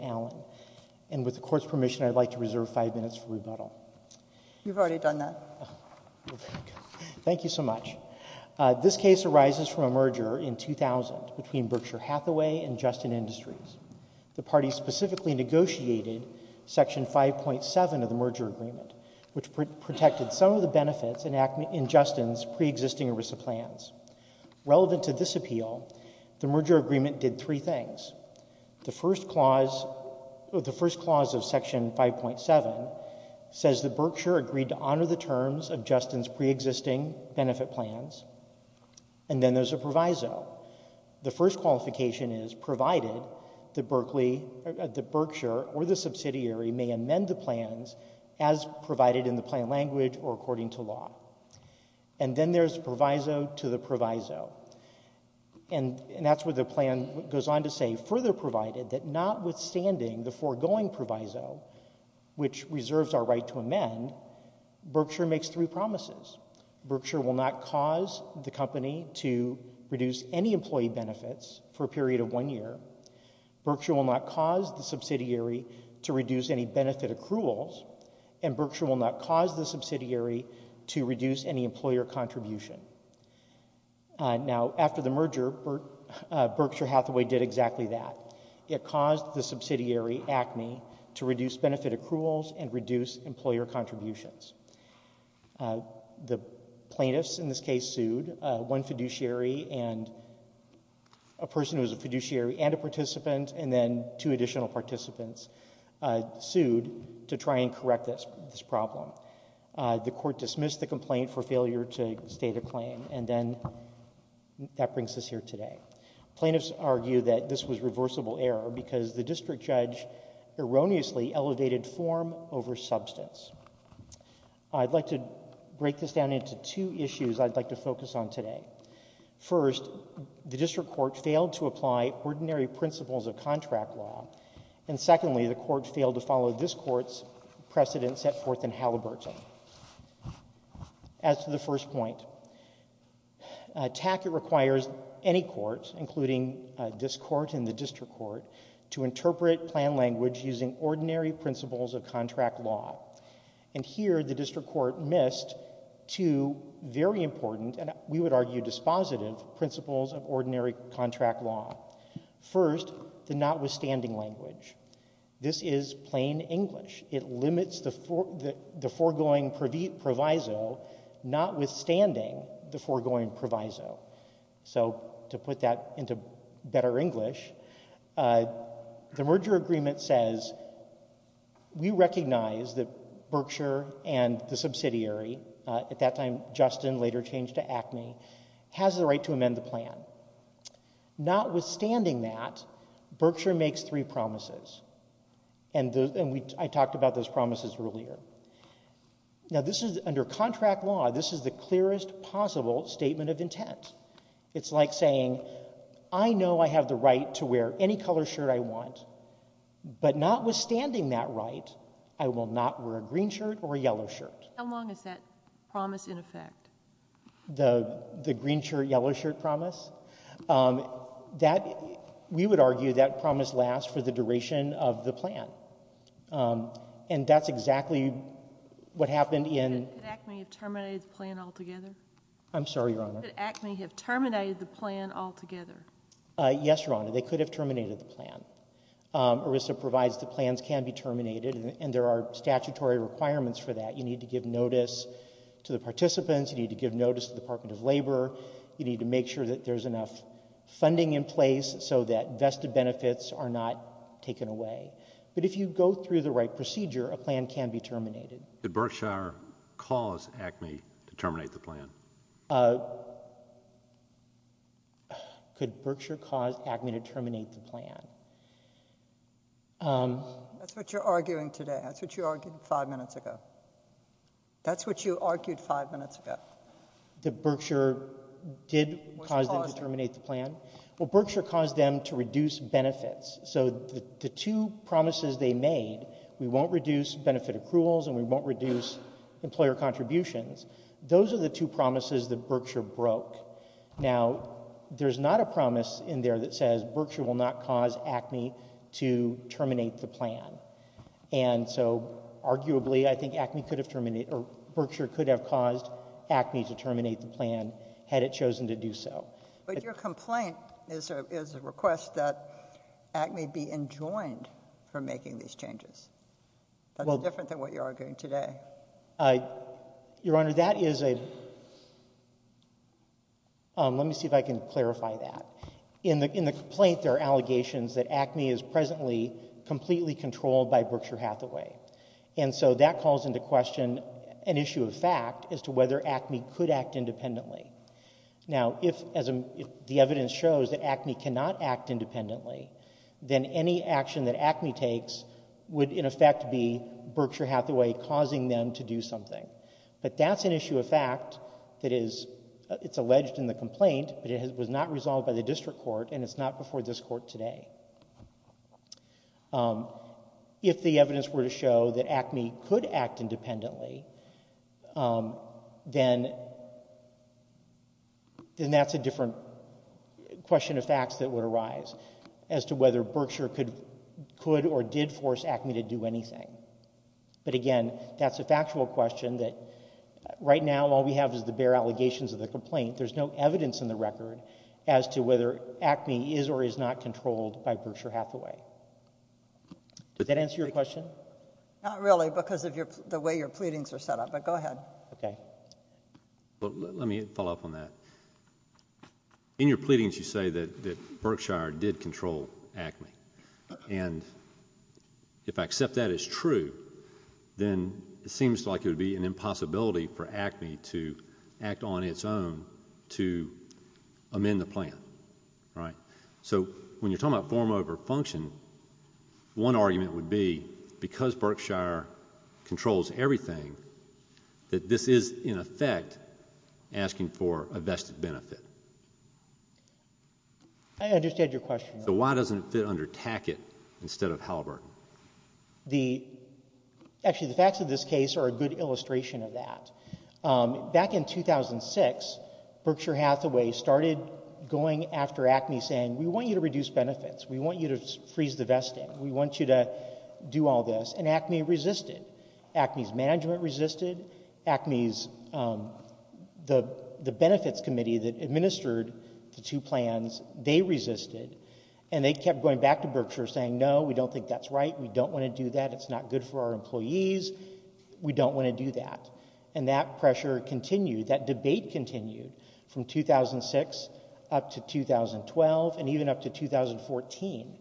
al., and with the Court's permission, I'd like to reserve five minutes for rebuttal. You've already done that. Thank you so much. This case arises from a merger in 2000 between Berkshire Hathaway and Justin Industries. The parties specifically negotiated Section 5.7 of the merger agreement, which protected some of the benefits in Justin's preexisting ERISA plans. Relevant to this appeal, the merger agreement did three things. The first clause of Section 5.7 says that Berkshire agreed to honor the terms of Justin's preexisting benefit plans, and then there's a proviso. The first qualification is, provided that Berkshire or the subsidiary may amend the plans as provided in the plan language or according to law. And then there's proviso to the proviso. And that's where the plan goes on to say, further provided that notwithstanding the foregoing proviso, which reserves our right to amend, Berkshire makes three promises. Berkshire will not cause the company to reduce any employee benefits for a period of one year. Berkshire will not cause the subsidiary to reduce any benefit accruals, and Berkshire will not cause the subsidiary to reduce any employer contribution. Now, after the merger, Berkshire Hathaway did exactly that. It caused the subsidiary, Acme, to reduce benefit accruals and reduce employer contributions. The plaintiffs in this case sued one fiduciary and a person who was a fiduciary and a participant, and then two additional participants sued to try and correct this problem. The Court dismissed the complaint for failure to state a claim, and then that brings us here today. Plaintiffs argue that this was reversible error because the district judge erroneously elevated form over substance. I'd like to break this down into two issues I'd like to focus on today. First, the district court failed to apply ordinary principles of contract law, and secondly, the court failed to follow this Court's precedents set forth in Halliburton. As to the first point, TACCET requires any court, including this Court and the district court, to interpret plan language using ordinary principles of contract law. And here, the district court missed two very important, and we would argue dispositive, principles of ordinary contract law. First, the notwithstanding language. This is plain English. It limits the foregoing proviso, notwithstanding the foregoing proviso. So to put that into better English, the merger agreement says, we recognize that Berkshire and the subsidiary, at that time Justin, later changed to ACME, has the right to amend the plan. Notwithstanding that, Berkshire makes three promises, and I talked about those promises earlier. Now, this is, under contract law, this is the clearest possible statement of intent. It's like saying, I know I have the right to wear any color shirt I want, but notwithstanding that right, I will not wear a green shirt or a yellow shirt. How long is that promise in effect? The green shirt, yellow shirt promise? We would argue that promise lasts for the duration of the plan. And that's exactly what happened in... Could ACME have terminated the plan altogether? I'm sorry, Your Honor. Could ACME have terminated the plan altogether? Yes, Your Honor, they could have terminated the plan. ERISA provides the plans can be terminated, and there are statutory requirements for that. You need to give notice to the participants, you need to give notice to the Department of Labor, you need to make sure that there's enough funding in place so that vested benefits are not taken away. But if you go through the right procedure, a plan can be terminated. Did Berkshire cause ACME to terminate the plan? Could Berkshire cause ACME to terminate the plan? That's what you're arguing today. That's what you argued five minutes ago. That's what you argued five minutes ago. That Berkshire did cause them to terminate the plan? Well, Berkshire caused them to reduce benefits. So the two promises they made, we won't reduce benefit accruals and we won't reduce employer contributions, those are the two promises that Berkshire broke. Now, there's not a promise in there that says Berkshire will not cause ACME to terminate the plan. And so, arguably, I think Berkshire could have caused ACME to terminate the plan had it chosen to do so. But your complaint is a request that ACME be enjoined from making these changes. That's different than what you're arguing today. Your Honor, that is a... let me see if I can clarify that. In the complaint, there are allegations that ACME is presently completely controlled by Berkshire Hathaway. And so that calls into question an issue of fact as to whether ACME could act independently. Now, if the evidence shows that ACME cannot act independently, then any action that ACME takes would, in effect, be Berkshire Hathaway causing them to do something. But that's an issue of fact that is... it's alleged in the complaint, but it was not resolved by the district court and it's not before this court today. If the evidence were to show that ACME could act independently, then... then that's a different question of facts that would arise as to whether Berkshire could or did force ACME to do anything. But again, that's a factual question that, right now, all we have is the bare allegations of the complaint. There's no evidence in the record as to whether ACME is or is not controlled by Berkshire Hathaway. Does that answer your question? Not really because of the way your pleadings are set up, but go ahead. Okay. Let me follow up on that. In your pleadings, you say that Berkshire did control ACME. And if I accept that as true, then it seems like it would be an impossibility for ACME to act on its own to amend the plan, right? So, when you're talking about form over function, one argument would be because Berkshire controls everything, that this is, in effect, asking for a vested benefit. I understand your question. So why doesn't it fit under Tackett instead of Halliburton? Actually, the facts of this case are a good illustration of that. Back in 2006, Berkshire Hathaway started going after ACME, saying, we want you to reduce benefits. We want you to freeze the vesting. We want you to do all this. And ACME resisted. ACME's management resisted. ACME's, the benefits committee that administered the two plans, they resisted. And they kept going back to Berkshire, saying, no, we don't think that's right. We don't want to do that. It's not good for our employees. We don't want to do that. And that pressure continued. That debate continued from 2006 up to 2012 and even up to 2014.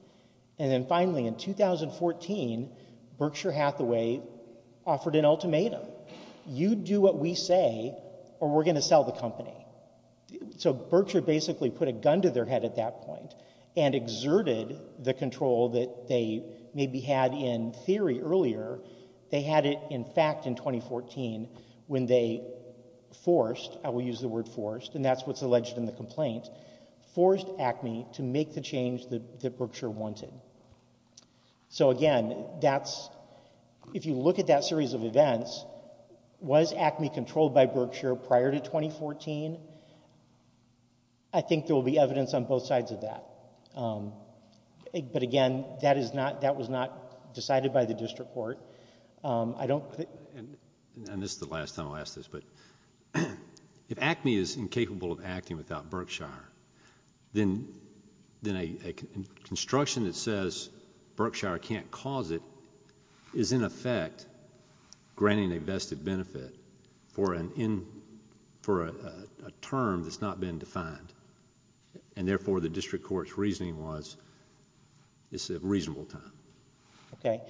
And then, finally, in 2014, Berkshire Hathaway offered an ultimatum. You do what we say, or we're going to sell the company. So Berkshire basically put a gun to their head at that point and exerted the control that they maybe had in theory earlier. They had it in fact in 2014 when they forced, I will use the word forced, and that's what's alleged in the complaint, forced ACME to make the change that Berkshire wanted. So, again, that's, if you look at that series of events, was ACME controlled by Berkshire prior to 2014? I think there will be evidence on both sides of that. But, again, that was not decided by the district court. I don't think... And this is the last time I'll ask this, but if ACME is incapable of acting without Berkshire, then a construction that says Berkshire can't cause it is, in effect, granting a vested benefit for a term that's not been defined. And, therefore, the district court's reasoning was it's a reasonable time. Okay.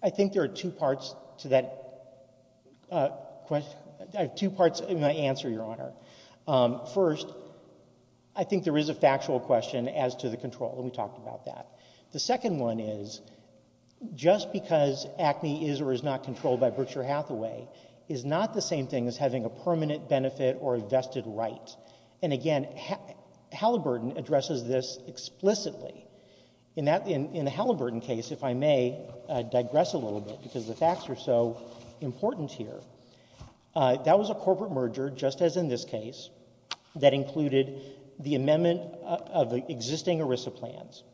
I think there are two parts to that question, two parts in my answer, Your Honor. First, I think there is a factual question as to the control, and we talked about that. The second one is, just because ACME is or is not controlled by Berkshire Hathaway is not the same thing as having a permanent benefit or a vested right. And, again, Halliburton addresses this explicitly. In the Halliburton case, if I may digress a little bit, because the facts are so important here, that was a corporate merger, just as in this case, that included the amendment of the existing ERISA plans.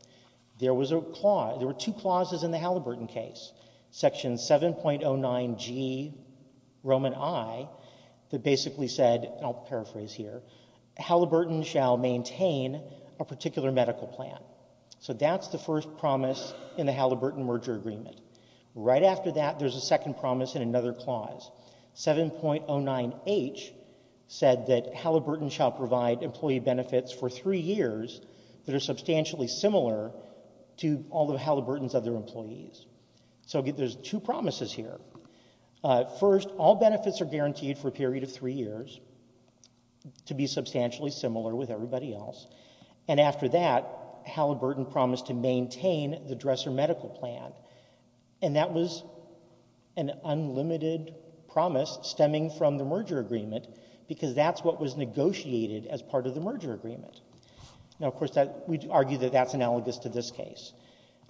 There was a clause, there were two clauses in the Halliburton case, Section 7.09G, Roman I, that basically said, and I'll paraphrase here, Halliburton shall maintain a particular medical plan. So that's the first promise in the Halliburton merger agreement. Right after that, there's a second promise in another clause. 7.09H said that Halliburton shall provide employee benefits for three years that are substantially similar to all of Halliburton's other employees. So there's two promises here. First, all benefits are guaranteed for a period of three years to be substantially similar with everybody else. And after that, Halliburton promised to maintain the Dresser medical plan. And that was an unlimited promise stemming from the merger agreement, because that's what was negotiated as part of the merger agreement. Now, of course, we argue that that's analogous to this case.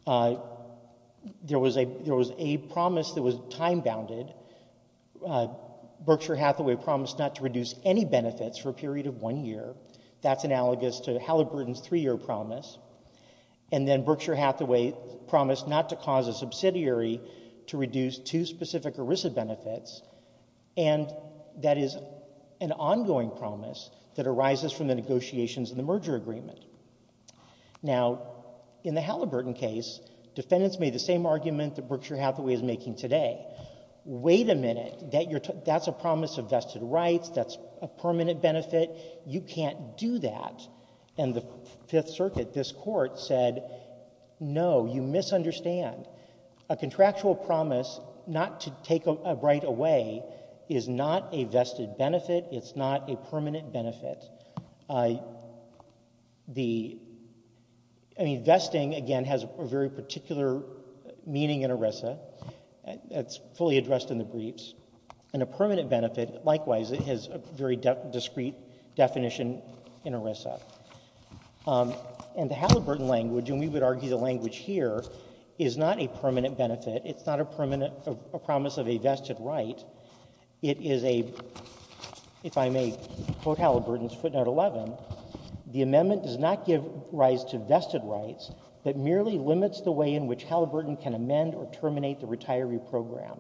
There was a promise that was time-bounded. Berkshire Hathaway promised not to reduce any benefits for a period of one year. That's analogous to Halliburton's three-year promise. And then Berkshire Hathaway promised not to cause a subsidiary to reduce two specific ERISA benefits. And that is an ongoing promise that arises from the negotiations in the merger agreement. Now, in the Halliburton case, defendants made the same argument that Berkshire Hathaway is making today. Wait a minute. That's a promise of vested rights. That's a permanent benefit. You can't do that. And the Fifth Circuit, this Court, said, no, you misunderstand. A contractual promise not to take a right away is not a vested benefit. It's not a permanent benefit. The — I mean, vesting, again, has a very particular meaning in ERISA. It's fully addressed in the briefs. And a permanent benefit, likewise, it has a very discrete definition in ERISA. And the Halliburton language, and we would argue the language here, is not a permanent benefit. It's not a promise of a vested right. It is a — if I may quote Halliburton's footnote 11, the amendment does not give rise to vested rights, but merely limits the way in which Halliburton can amend or terminate the retiree program.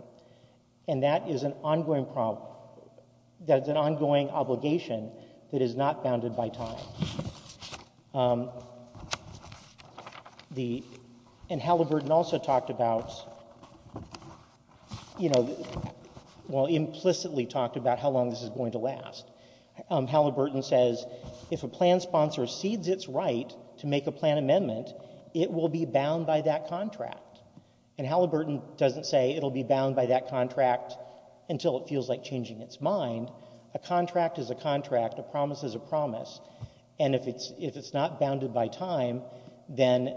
And that is an ongoing obligation that is not bounded by time. The — and Halliburton also talked about, you know, well, implicitly talked about how long this is going to last. Halliburton says, if a plan sponsor cedes its right to make a plan amendment, it will be bound by that contract. And Halliburton doesn't say it will be bound by that contract until it feels like changing its mind. A contract is a contract. A promise is a promise. And if it's not bounded by time, then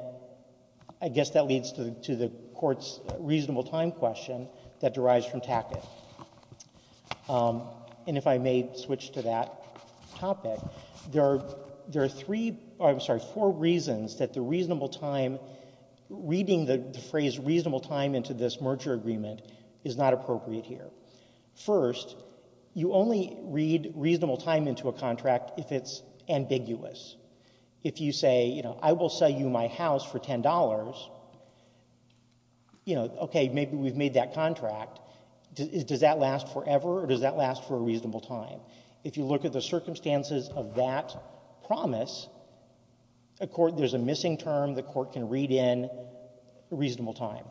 I guess that leads to the Court's reasonable time question that derives from Tackett. And if I may switch to that topic, there are three — oh, I'm sorry, four reasons that the reasonable time — reading the phrase reasonable time into this merger agreement is not appropriate here. First, you only read reasonable time into a contract if it's ambiguous. If you say, you know, I will sell you my house for $10, you know, okay, maybe we've made that contract, does that last forever or does that last for a reasonable time? If you look at the circumstances of that promise, a court — there's a missing term the court can read in reasonable time.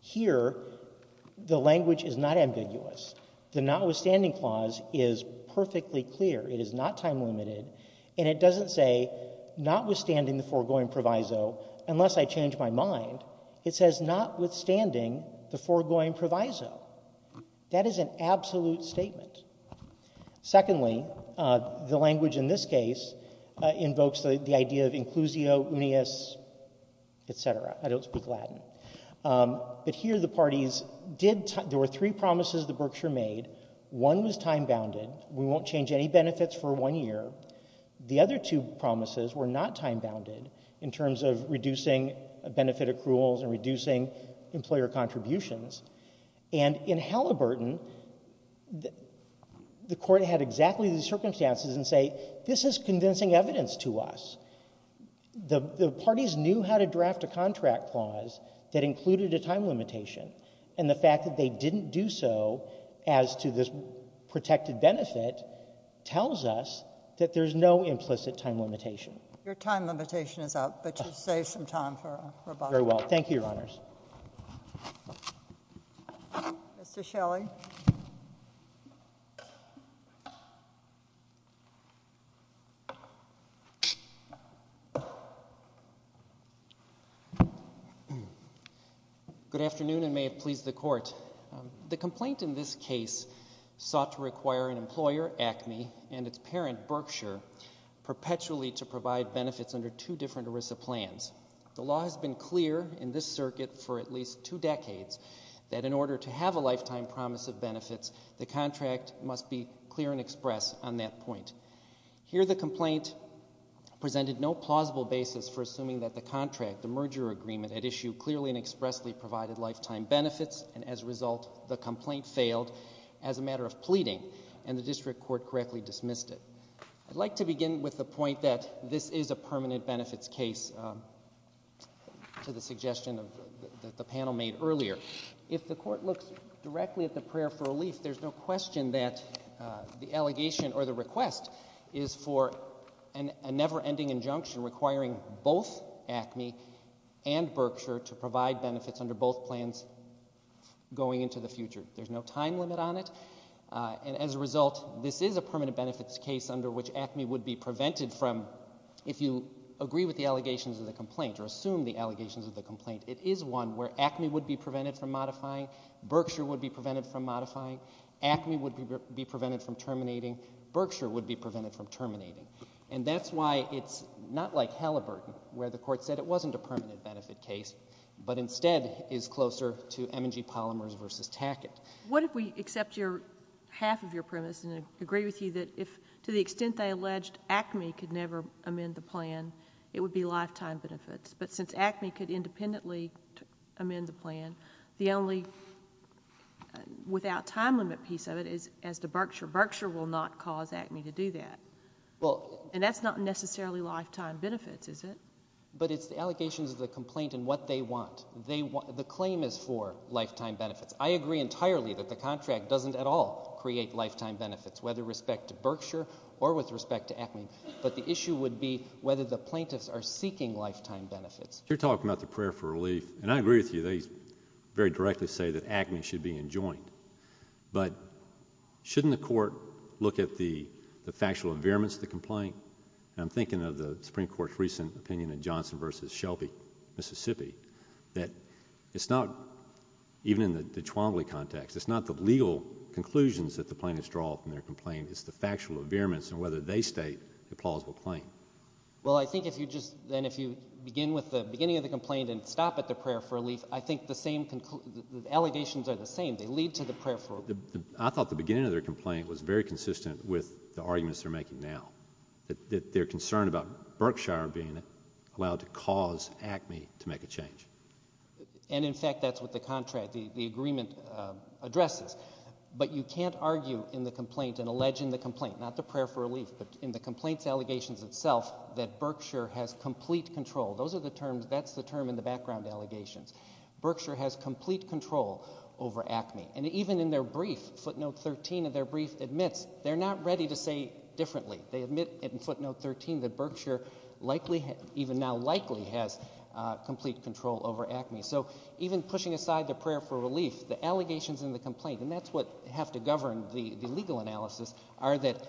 Here, the language is not ambiguous. The notwithstanding clause is perfectly clear. It is not time-limited, and it doesn't say notwithstanding the foregoing proviso unless I change my mind. It says notwithstanding the foregoing proviso. That is an absolute statement. Secondly, the language in this case invokes the idea of inclusio, unius, et cetera. I don't speak Latin. But here, the parties did — there were three promises that Berkshire made. One was time-bounded. We won't change any benefits for one year. The other two promises were not time-bounded in terms of reducing benefit accruals and reducing employer contributions. And in Halliburton, the court had exactly these circumstances and say, this is convincing evidence to us. The parties knew how to draft a contract clause that included a time limitation. And the fact that they didn't do so as to this protected benefit tells us that there's no implicit time limitation. Your time limitation is up, but you've saved some time for rebuttal. Very well. Thank you, Your Honors. Mr. Shelley. Good afternoon and may it please the court. The complaint in this case sought to require an employer, Acme, and its parent, Berkshire, perpetually to provide benefits under two different ERISA plans. The law has been clear in this circuit for at least two decades that in order to have a lifetime promise of benefits, the contract must be clear and express on that point. Here, the complaint presented no plausible basis for assuming that the contract, the merger agreement, had issued clearly and expressly provided lifetime benefits and as a result, the complaint failed as a matter of pleading and the district court correctly dismissed it. I'd like to begin with the point that this is a permanent benefits case to the suggestion that the panel made earlier. If the court looks directly at the prayer for relief, there's no question that the allegation or the request is for a never-ending injunction requiring both Acme and Berkshire to provide benefits under both plans going into the future. There's no time limit on it and as a result, this is a permanent benefits case under which Acme would be prevented from, if you agree with the allegations of the complaint or assume the allegations of the complaint, it is one where Acme would be prevented from modifying, Berkshire would be prevented from modifying, Acme would be prevented from terminating, Berkshire would be prevented from terminating. And that's why it's not like Halliburton where the court said it wasn't a permanent benefit case but instead is closer to M&G Polymers versus Tackett. What if we accept half of your premise and agree with you that to the extent they alleged Acme could never amend the plan, it would be lifetime benefits. But since Acme could independently amend the plan, the only without time limit piece of it is as to Berkshire. Berkshire will not cause Acme to do that. And that's not necessarily lifetime benefits, is it? But it's the allegations of the complaint and what they want. The claim is for lifetime benefits. I agree entirely that the contract doesn't at all create lifetime benefits, whether respect to Berkshire or with respect to Acme. But the issue would be whether the plaintiffs are seeking lifetime benefits. You're talking about the prayer for relief. And I agree with you. They very directly say that Acme should be enjoined. But shouldn't the court look at the factual environments of the complaint? And I'm thinking of the Supreme Court's recent opinion in Johnson versus Shelby, Mississippi, that it's not, even in the Chwamblee context, it's not the legal conclusions that the plaintiffs draw from their complaint. It's the factual environments and whether they state a plausible claim. Well, I think if you just then if you begin with the beginning of the complaint and stop at the prayer for relief, I think the allegations are the same. They lead to the prayer for relief. I thought the beginning of their complaint was very consistent with the arguments they're making now, that they're concerned about Berkshire being allowed to cause Acme to make a change. And, in fact, that's what the contract, the agreement, addresses. But you can't argue in the complaint and allege in the complaint, not the prayer for relief, but in the complaint's allegations itself, that Berkshire has complete control. Those are the terms. That's the term in the background allegations. Berkshire has complete control over Acme. And even in their brief, footnote 13 of their brief, admits they're not ready to say differently. They admit in footnote 13 that Berkshire likely, even now likely, has complete control over Acme. So even pushing aside the prayer for relief, the allegations in the complaint, and that's what have to govern the legal analysis, are that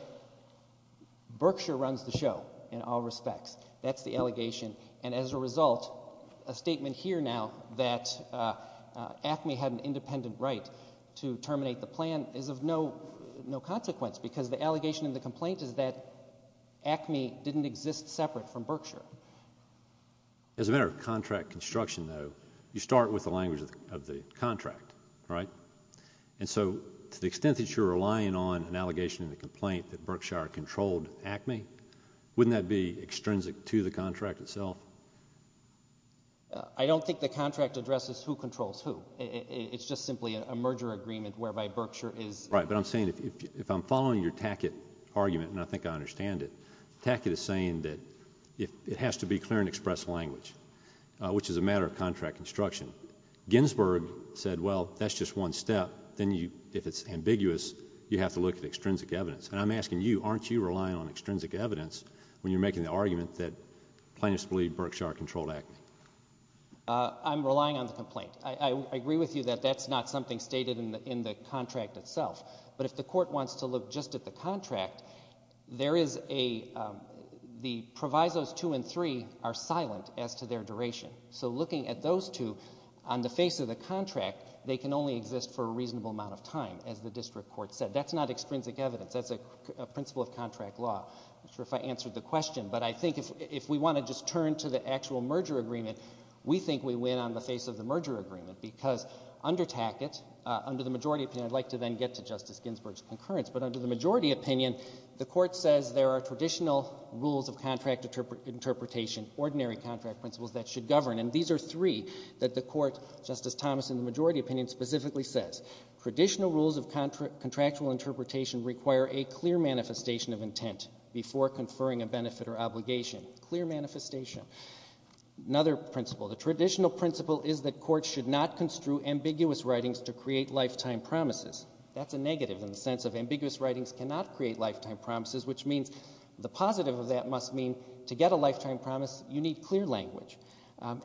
Berkshire runs the show in all respects. That's the allegation. And as a result, a statement here now that Acme had an independent right to terminate the plan is of no consequence because the allegation in the complaint is that Acme didn't exist separate from Berkshire. As a matter of contract construction, though, you start with the language of the contract, right? And so to the extent that you're relying on an allegation in the complaint that Berkshire controlled Acme, wouldn't that be extrinsic to the contract itself? I don't think the contract addresses who controls who. It's just simply a merger agreement whereby Berkshire is... Right, but I'm saying if I'm following your Tackett argument, and I think I understand it, Tackett is saying that it has to be clear and express language, which is a matter of contract construction. Ginsburg said, well, that's just one step. Then if it's ambiguous, you have to look at extrinsic evidence. And I'm asking you, aren't you relying on extrinsic evidence when you're making the argument that plaintiffs believe Berkshire controlled Acme? I'm relying on the complaint. I agree with you that that's not something stated in the contract itself. But if the court wants to look just at the contract, there is a... the provisos 2 and 3 are silent as to their duration. So looking at those two, on the face of the contract, they can only exist for a reasonable amount of time, as the district court said. That's not extrinsic evidence. That's a principle of contract law. I'm not sure if I answered the question, but I think if we want to just turn to the actual merger agreement, we think we win on the face of the merger agreement, because under Tackett, under the majority opinion, I'd like to then get to Justice Ginsburg's concurrence, but under the majority opinion, the court says there are traditional rules of contract interpretation, ordinary contract principles, that should govern. And these are three that the court, Justice Thomas, in the majority opinion specifically says. Traditional rules of contractual interpretation require a clear manifestation of intent before conferring a benefit or obligation. Clear manifestation. Another principle, the traditional principle is that courts should not construe ambiguous writings to create lifetime promises. That's a negative in the sense of ambiguous writings cannot create lifetime promises, which means the positive of that must mean to get a lifetime promise, you need clear language.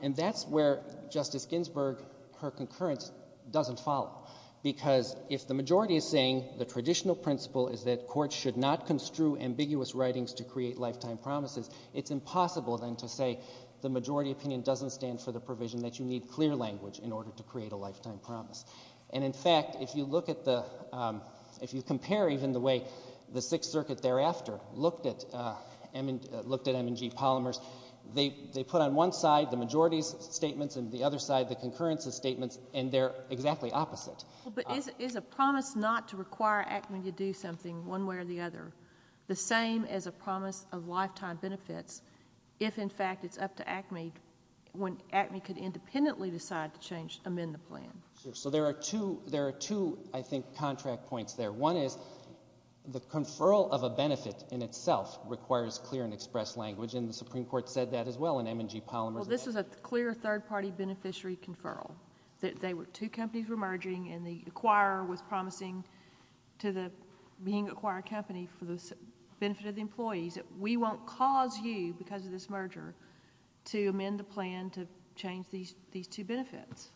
And that's where Justice Ginsburg, her concurrence, doesn't follow. Because if the majority is saying the traditional principle is that courts should not construe ambiguous writings to create lifetime promises, it's impossible then to say the majority opinion doesn't stand for the provision that you need clear language in order to create a lifetime promise. And in fact, if you look at the, if you compare even the way the Sixth Circuit thereafter looked at M&G polymers, they put on one side the majority's statements and the other side the concurrence's statements and they're exactly opposite. But is a promise not to require ACME to do something one way or the other the same as a promise of lifetime benefits if in fact it's up to ACME when ACME could independently decide to amend the plan? Sure. So there are two, I think, contract points there. One is the conferral of a benefit in itself requires clear and express language, and the Supreme Court said that as well in M&G polymers. Well, this was a clear third-party beneficiary conferral. Two companies were merging and the acquirer was promising to the being acquired company for the benefit of the employees that we won't cause you, because of this merger, to amend the plan to change these two benefits.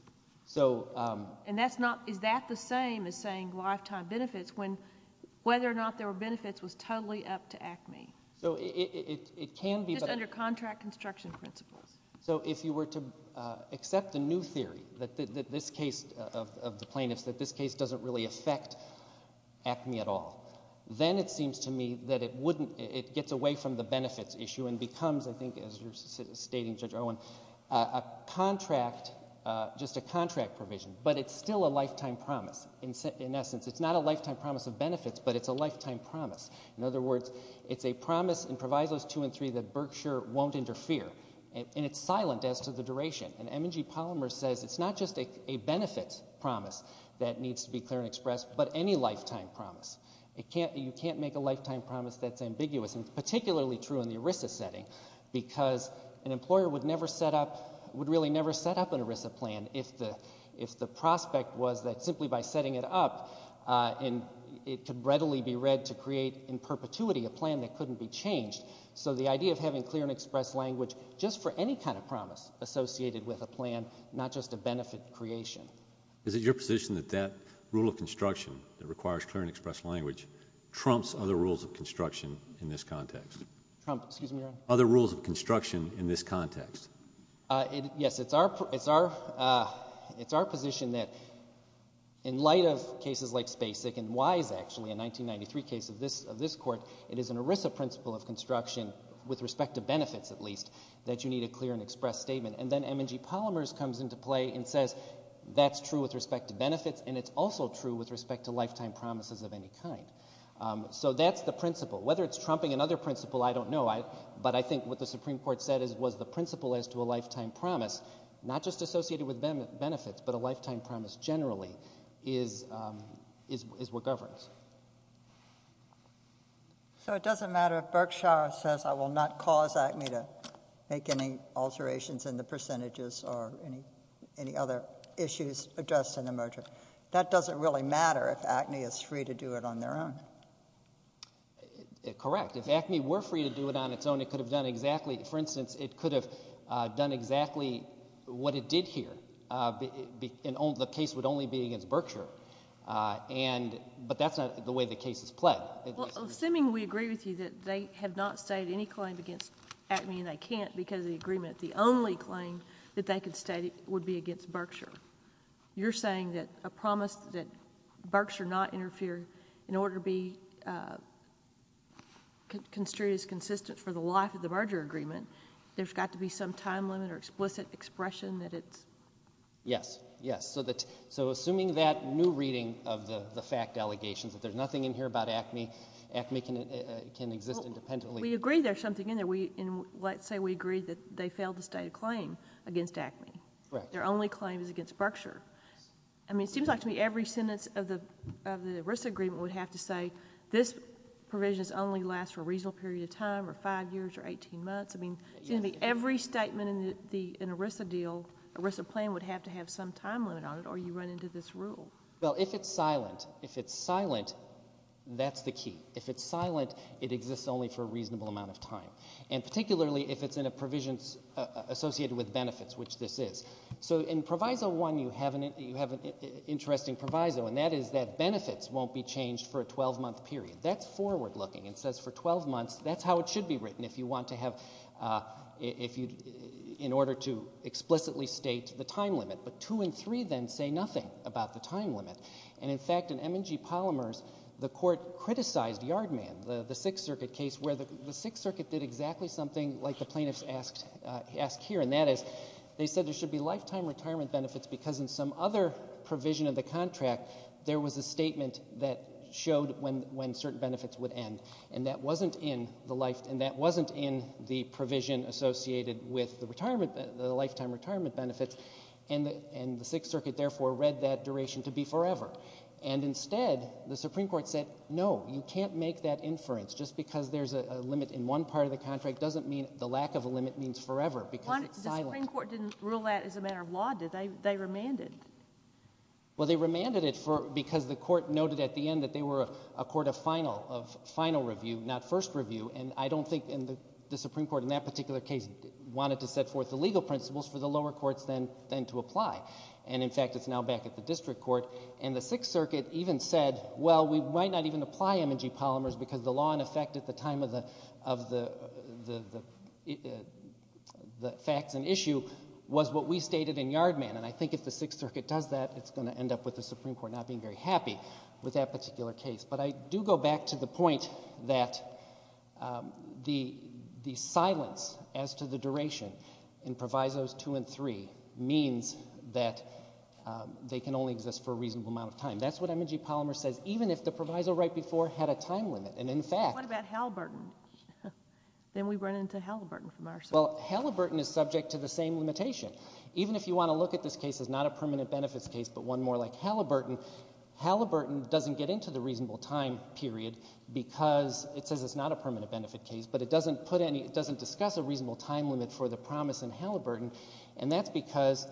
And that's not... Is that the same as saying lifetime benefits when whether or not there were benefits was totally up to ACME? So it can be... Just under contract construction principles. So if you were to accept the new theory that this case of the plaintiffs, that this case doesn't really affect ACME at all, then it seems to me that it wouldn't... It gets away from the benefits issue and becomes, I think, as you're stating, Judge Owen, a contract, just a contract provision, but it's still a lifetime promise. In essence, it's not a lifetime promise of benefits, but it's a lifetime promise. In other words, it's a promise in Provisos 2 and 3 that Berkshire won't interfere, and it's silent as to the duration. And M&G Polymer says it's not just a benefits promise that needs to be clear and expressed, but any lifetime promise. You can't make a lifetime promise that's ambiguous, and particularly true in the ERISA setting, because an employer would never set up... would really never set up an ERISA plan if the prospect was that simply by setting it up, it could readily be read to create in perpetuity a plan that couldn't be changed. So the idea of having clear and expressed language just for any kind of promise associated with a plan, not just a benefit creation. Is it your position that that rule of construction that requires clear and expressed language trumps other rules of construction in this context? Trump, excuse me. Other rules of construction in this context. Yes, it's our... it's our... it's our position that, in light of cases like Spasic and Wise, actually, a 1993 case of this court, it is an ERISA principle of construction, with respect to benefits, at least, that you need a clear and expressed statement. And then M&G Polymers comes into play and says that's true with respect to benefits, and it's also true with respect to lifetime promises of any kind. So that's the principle. Whether it's trumping another principle, I don't know. But I think what the Supreme Court said was the principle as to a lifetime promise, not just associated with benefits, but a lifetime promise generally, is what governs. So it doesn't matter if Berkshire says I will not cause Acme to make any alterations in the percentages or any other issues addressed in the merger. That doesn't really matter if Acme is free to do it on their own. Correct. If Acme were free to do it on its own, it could have done exactly... For instance, it could have done exactly what it did here. The case would only be against Berkshire. But that's not the way the case is played. Assuming we agree with you that they have not stated any claim against Acme, and they can't because of the agreement, the only claim that they could state would be against Berkshire. You're saying that a promise that Berkshire not interfere in order to be construed as consistent for the life of the merger agreement, there's got to be some time limit or explicit expression that it's... Yes, yes. So assuming that new reading of the fact allegations, that there's nothing in here about Acme, Acme can exist independently... We agree there's something in there. Let's say we agree that they failed to state a claim against Acme. Correct. Their only claim is against Berkshire. I mean, it seems like to me every sentence of the ERISA agreement would have to say, this provision only lasts for a reasonable period of time or 5 years or 18 months. I mean, every statement in an ERISA deal, ERISA plan would have to have some time limit on it or you run into this rule. Well, if it's silent, if it's silent, that's the key. If it's silent, it exists only for a reasonable amount of time. And particularly if it's in a provision associated with benefits, which this is. So in Proviso 1, you have an interesting proviso, and that is that benefits won't be changed for a 12-month period. That's forward-looking. It says for 12 months, that's how it should be written if you want to have... in order to explicitly state the time limit. But 2 and 3, then, say nothing about the time limit. And, in fact, in M&G Polymers, the court criticized Yardman, the Sixth Circuit case, where the Sixth Circuit did exactly something like the plaintiffs ask here, and that is they said there should be lifetime retirement benefits because in some other provision of the contract, there was a statement that showed when certain benefits would end. And that wasn't in the life... and that wasn't in the provision associated with the lifetime retirement benefits. And the Sixth Circuit, therefore, read that duration to be forever. And instead, the Supreme Court said, no, you can't make that inference. Just because there's a limit in one part of the contract doesn't mean the lack of a limit means forever. Because it's silent. The Supreme Court didn't rule that as a matter of law, did they? They remanded. Well, they remanded it because the court noted at the end that they were a court of final review, not first review. And I don't think the Supreme Court in that particular case wanted to set forth the legal principles for the lower courts then to apply. And, in fact, it's now back at the district court. And the Sixth Circuit even said, well, we might not even apply M&G Polymers because the law in effect at the time of the facts and issue was what we stated in Yard Man. And I think if the Sixth Circuit does that, it's going to end up with the Supreme Court not being very happy with that particular case. But I do go back to the point that the silence as to the duration in Provisos 2 and 3 means that they can only exist for a reasonable amount of time. That's what M&G Polymer says. Even if the proviso right before had a time limit. And, in fact... What about Halliburton? Then we run into Halliburton from our side. Well, Halliburton is subject to the same limitation. Even if you want to look at this case as not a permanent benefits case but one more like Halliburton, Halliburton doesn't get into the reasonable time period because it says it's not a permanent benefit case, but it doesn't discuss a reasonable time limit for the promise in Halliburton, and that's because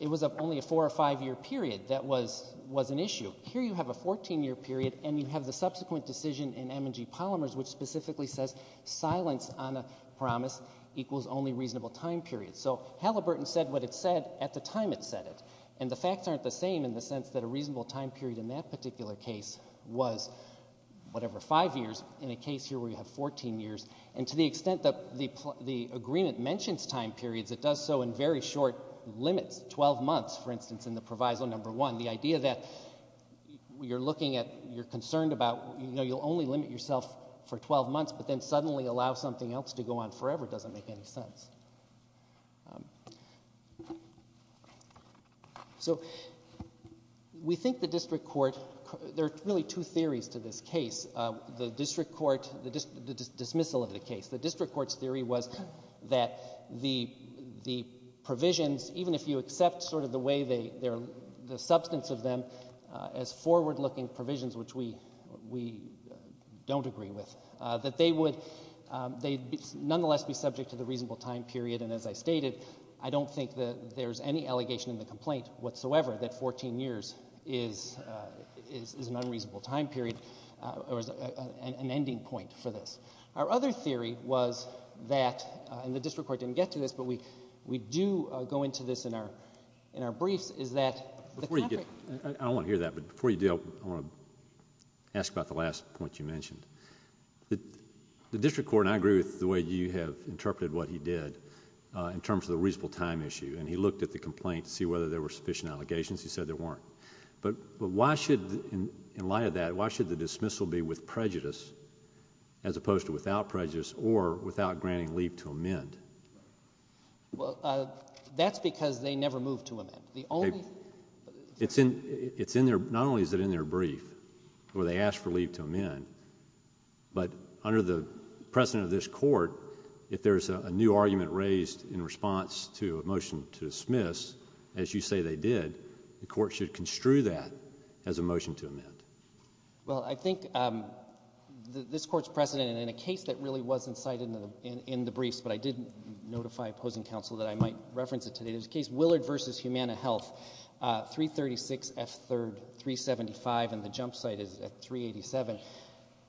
it was only a four- or five-year period that was an issue. Here you have a 14-year period, and you have the subsequent decision in M&G Polymers which specifically says silence on a promise equals only reasonable time periods. So Halliburton said what it said at the time it said it. And the facts aren't the same in the sense that a reasonable time period in that particular case was whatever, five years, in a case here where you have 14 years. And to the extent that the agreement mentions time periods, it does so in very short limits, 12 months, for instance, in the Proviso No. 1. The idea that you're looking at... you're concerned about... you know, you'll only limit yourself for 12 months, but then suddenly allow something else to go on forever doesn't make any sense. So we think the district court... there are really two theories to this case. The district court... the dismissal of the case. The district court's theory was that the provisions, even if you accept sort of the way they... the substance of them as forward-looking provisions, which we don't agree with, that they would nonetheless be subject to the reasonable time period. And as I stated, I don't think there's any allegation in the complaint whatsoever that 14 years is an unreasonable time period or is an ending point for this. Our other theory was that... and the district court didn't get to this, but we do go into this in our briefs... I don't want to hear that, but before you do, I want to ask about the last point you mentioned. The district court, and I agree with the way you have interpreted what he did in terms of the reasonable time issue, and he looked at the complaint to see whether there were sufficient allegations. He said there weren't. But why should, in light of that, as opposed to without prejudice or without granting leave to amend? Well, that's because they never moved to amend. The only... It's in their... not only is it in their brief where they ask for leave to amend, but under the precedent of this court, if there's a new argument raised in response to a motion to dismiss, as you say they did, the court should construe that as a motion to amend. Well, I think this court's precedent in a case that really was incited in the briefs, but I did notify opposing counsel that I might reference it today. There's a case, Willard v. Humana Health, 336 F. 3rd, 375, and the jump site is at 387.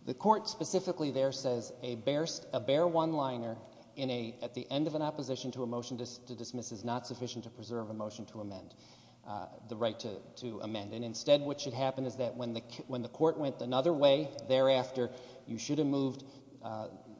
The court specifically there says a bare one-liner at the end of an opposition to a motion to dismiss is not sufficient to preserve a motion to amend, the right to amend. And instead what should happen is that when the court went another way thereafter, you should have moved...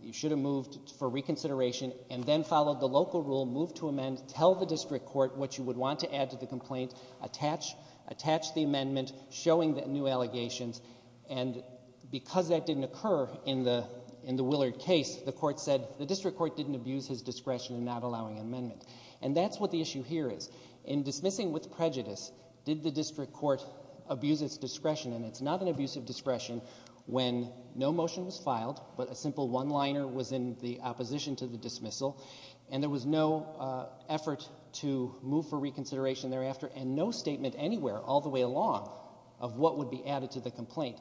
you should have moved for reconsideration and then followed the local rule, moved to amend, tell the district court what you would want to add to the complaint, attach the amendment, showing new allegations, and because that didn't occur in the Willard case, the court said the district court didn't abuse his discretion in not allowing an amendment. And that's what the issue here is. In dismissing with prejudice, did the district court abuse its discretion? And it's not an abuse of discretion when no motion was filed, but a simple one-liner was in the opposition to the dismissal, and there was no effort to move for reconsideration thereafter, and no statement anywhere all the way along of what would be added to the complaint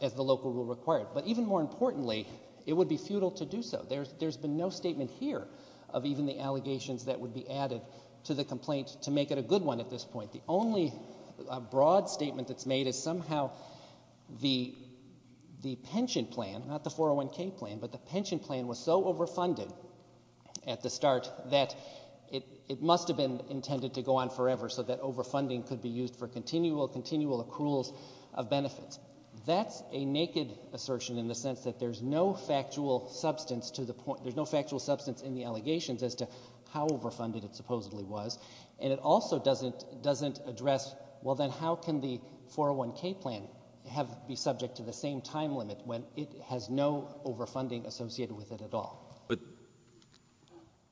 as the local rule required. But even more importantly, it would be futile to do so. There's been no statement here of even the allegations that would be added to the complaint to make it a good one at this point. The only broad statement that's made is somehow the... the pension plan, not the 401k plan, but the pension plan was so overfunded at the start that it must have been intended to go on forever so that overfunding could be used for continual, continual accruals of benefits. That's a naked assertion in the sense that there's no factual substance to the point... there's no factual substance in the allegations as to how overfunded it supposedly was, and it also doesn't address, well, then how can the 401k plan be subject to the same time limit when it has no overfunding associated with it at all? But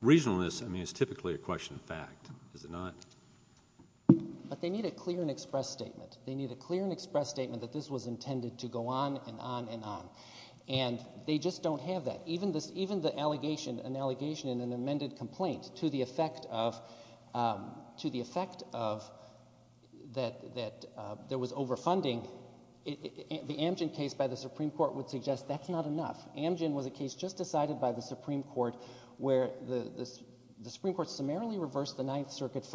reasonableness, I mean, is typically a question of fact, is it not? But they need a clear and express statement. They need a clear and express statement that this was intended to go on and on and on. And they just don't have that. Even the allegation... an allegation in an amended complaint to the effect of... to the effect of... overfunding, the Amgen case by the Supreme Court would suggest that's not enough. Amgen was a case just decided by the Supreme Court where the Supreme Court summarily reversed the Ninth Circuit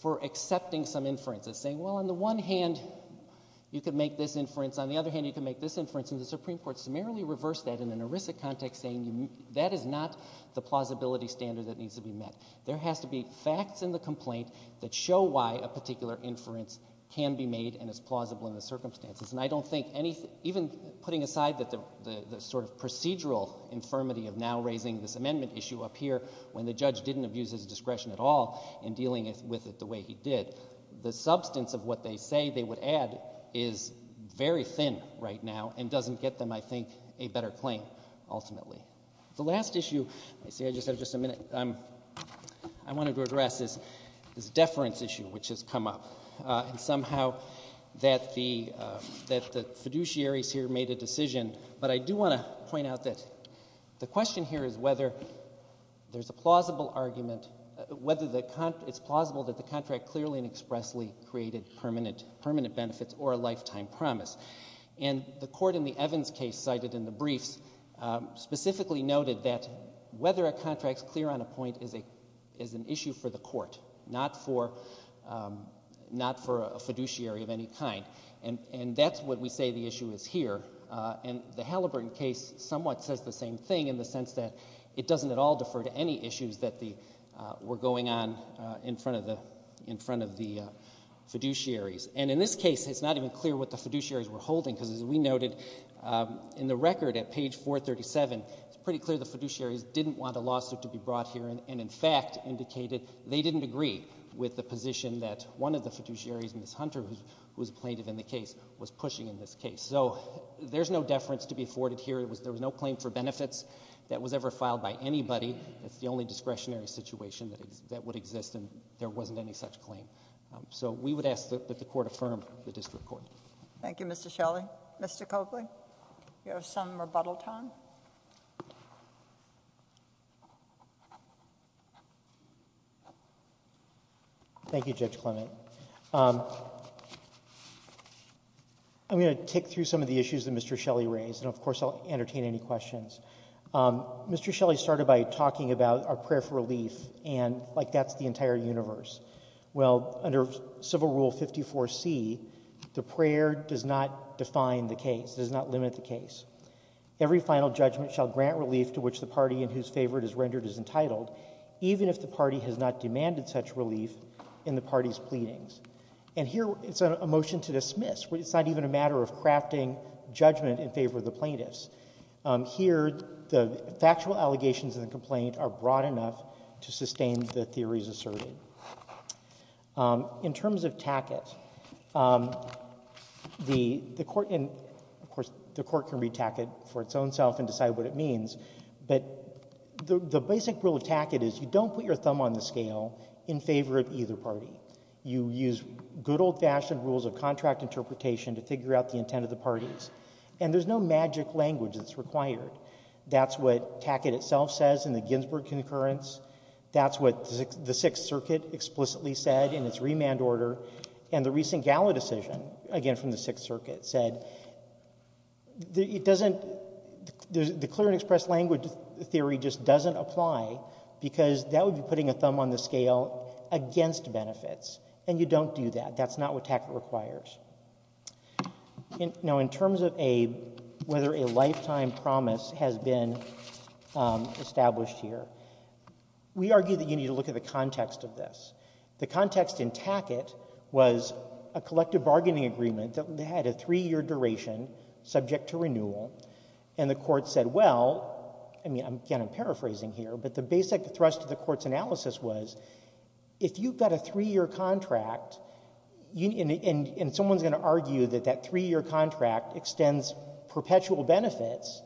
for accepting some inferences, saying, well, on the one hand, you can make this inference, on the other hand, you can make this inference, and the Supreme Court summarily reversed that in an erisic context, saying, that is not the plausibility standard that needs to be met. There has to be facts in the complaint that show why a particular inference can be made and is plausible in the circumstances. And I don't think anything... even putting aside the sort of procedural infirmity of now raising this amendment issue up here when the judge didn't abuse his discretion at all in dealing with it the way he did, the substance of what they say they would add is very thin right now and doesn't get them, I think, a better claim, ultimately. The last issue... I see I just have just a minute. I wanted to address this deference issue which has come up and somehow that the fiduciaries here made a decision, but I do want to point out that the question here is whether there's a plausible argument... it's plausible that the contract clearly and expressly created permanent benefits or a lifetime promise. And the court in the Evans case cited in the briefs specifically noted that whether a contract's clear on a point is an issue for the court, not for a fiduciary of any kind. And that's what we say the issue is here. And the Halliburton case somewhat says the same thing in the sense that it doesn't at all defer to any issues that were going on in front of the fiduciaries. And in this case, it's not even clear what the fiduciaries were holding because as we noted in the record at page 437, it's pretty clear the fiduciaries didn't want a lawsuit to be brought here and in fact indicated they didn't agree with the position that one of the fiduciaries, Ms. Hunter, who was a plaintiff in the case, was pushing in this case. So there's no deference to be afforded here. There was no claim for benefits that was ever filed by anybody. It's the only discretionary situation that would exist and there wasn't any such claim. So we would ask that the court affirm the district court. Thank you, Mr. Shelley. Mr. Coakley, you have some rebuttal time. Thank you, Judge Clement. I'm going to tick through some of the issues that Mr. Shelley raised and of course I'll entertain any questions. Mr. Shelley started by talking about our prayer for relief and like that's the entire universe. Well, under Civil Rule 54C the prayer does not define the case, does not limit the case. Every final judgment shall grant relief to which the party in whose favor it is rendered is entitled, even if the party has not demanded such relief in the party's pleadings. And here it's a motion to dismiss. It's not even a matter of crafting judgment in favor of the plaintiffs. Here the factual allegations in the complaint are broad enough to sustain the theories asserted. In terms of Tackett, the Court and of course the Court can read Tackett for its own self and decide what it means, but the basic rule of Tackett is you don't put your thumb on the scale in favor of either party. You use good old fashioned rules of contract interpretation to figure out the intent of the parties. And there's no magic language that's required. That's what Tackett itself says in the Ginsburg concurrence. That's what the Sixth Circuit explicitly said in its remand order and the recent Gallo decision again from the Sixth Circuit said it doesn't the clear and express language theory just doesn't apply because that would be putting a thumb on the scale against benefits and you don't do that. That's not what Tackett requires. Now in terms of whether a lifetime promise has been established here, we argue that you need to look at the context of this. The context in Tackett was a collective bargaining agreement that had a three year duration subject to renewal and the Court said well, again I'm paraphrasing here, but the basic thrust of the Court's analysis was if you've got a three year contract and someone's going to argue that that three year contract extends perpetual benefits,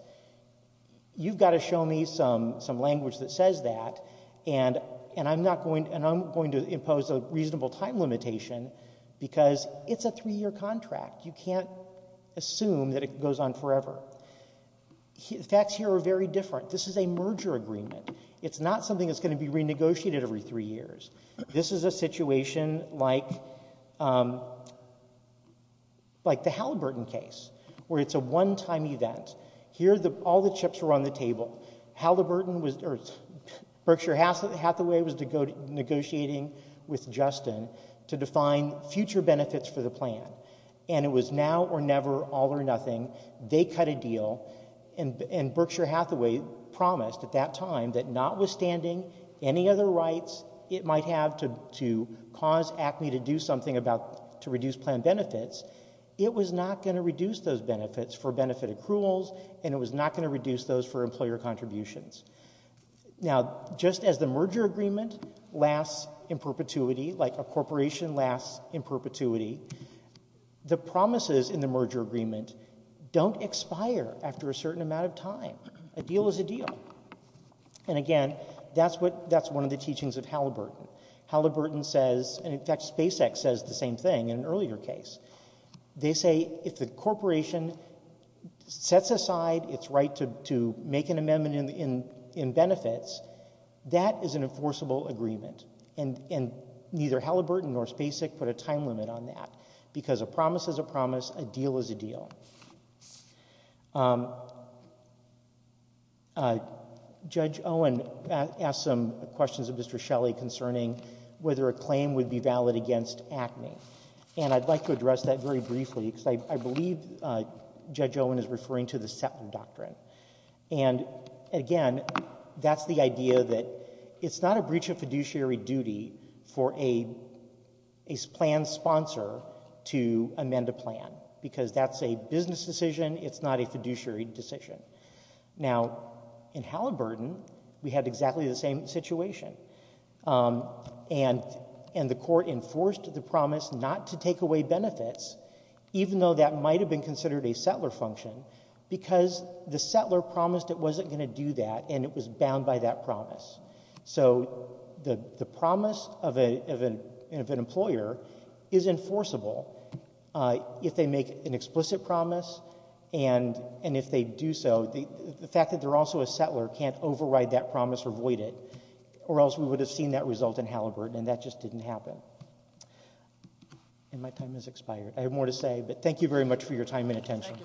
you've got to show me some language that says that and I'm not going to impose a reasonable time limitation because it's a three year contract. You can't assume that it goes on forever. The facts here are very different. This is a merger agreement. It's not something that's going to be renegotiated every three years. This is a situation like the Halliburton case where it's a one time event. All the chips were on the table. Berkshire Hathaway was negotiating with Justin to define future benefits for the plan and it was now or never, all or nothing. They cut a deal and Berkshire Hathaway promised at that time that notwithstanding any other rights it might have to cause ACME to do something to reduce plan benefits, it was not going to reduce those benefits for benefit accruals and it was not going to reduce those for employer contributions. Now just as the merger agreement lasts in perpetuity, like a corporation lasts in perpetuity, the promises in the merger agreement don't expire after a certain amount of time. A deal is a deal. And again, that's one of the teachings of Halliburton. Halliburton says, and in fact SpaceX says the same thing in an earlier case. They say if the corporation sets aside its right to make an amendment in benefits, that is an enforceable agreement and neither Halliburton nor SpaceX put a time limit on that because a promise is a promise, a deal is a deal. Judge Owen asked some questions of Mr. Shelley concerning whether a claim would be valid against ACME. And I'd like to address that very briefly because I believe Judge Owen is referring to the Settler Doctrine. And again, that's the idea that it's not a breach of fiduciary duty for a plan sponsor to amend a plan because that's a business decision, it's not a fiduciary decision. Now, in Halliburton we had exactly the same situation. And the court enforced the promise not to take away benefits even though that might have been considered a settler function because the settler promised it wasn't going to do that and it was bound by that promise. So the promise of an employer is enforceable if they make an explicit promise and if they do so, the fact that they're also a settler can't or else we would have seen that result in Halliburton and that just didn't happen. And my time has expired. I have more to say, but thank you very much for your time and attention.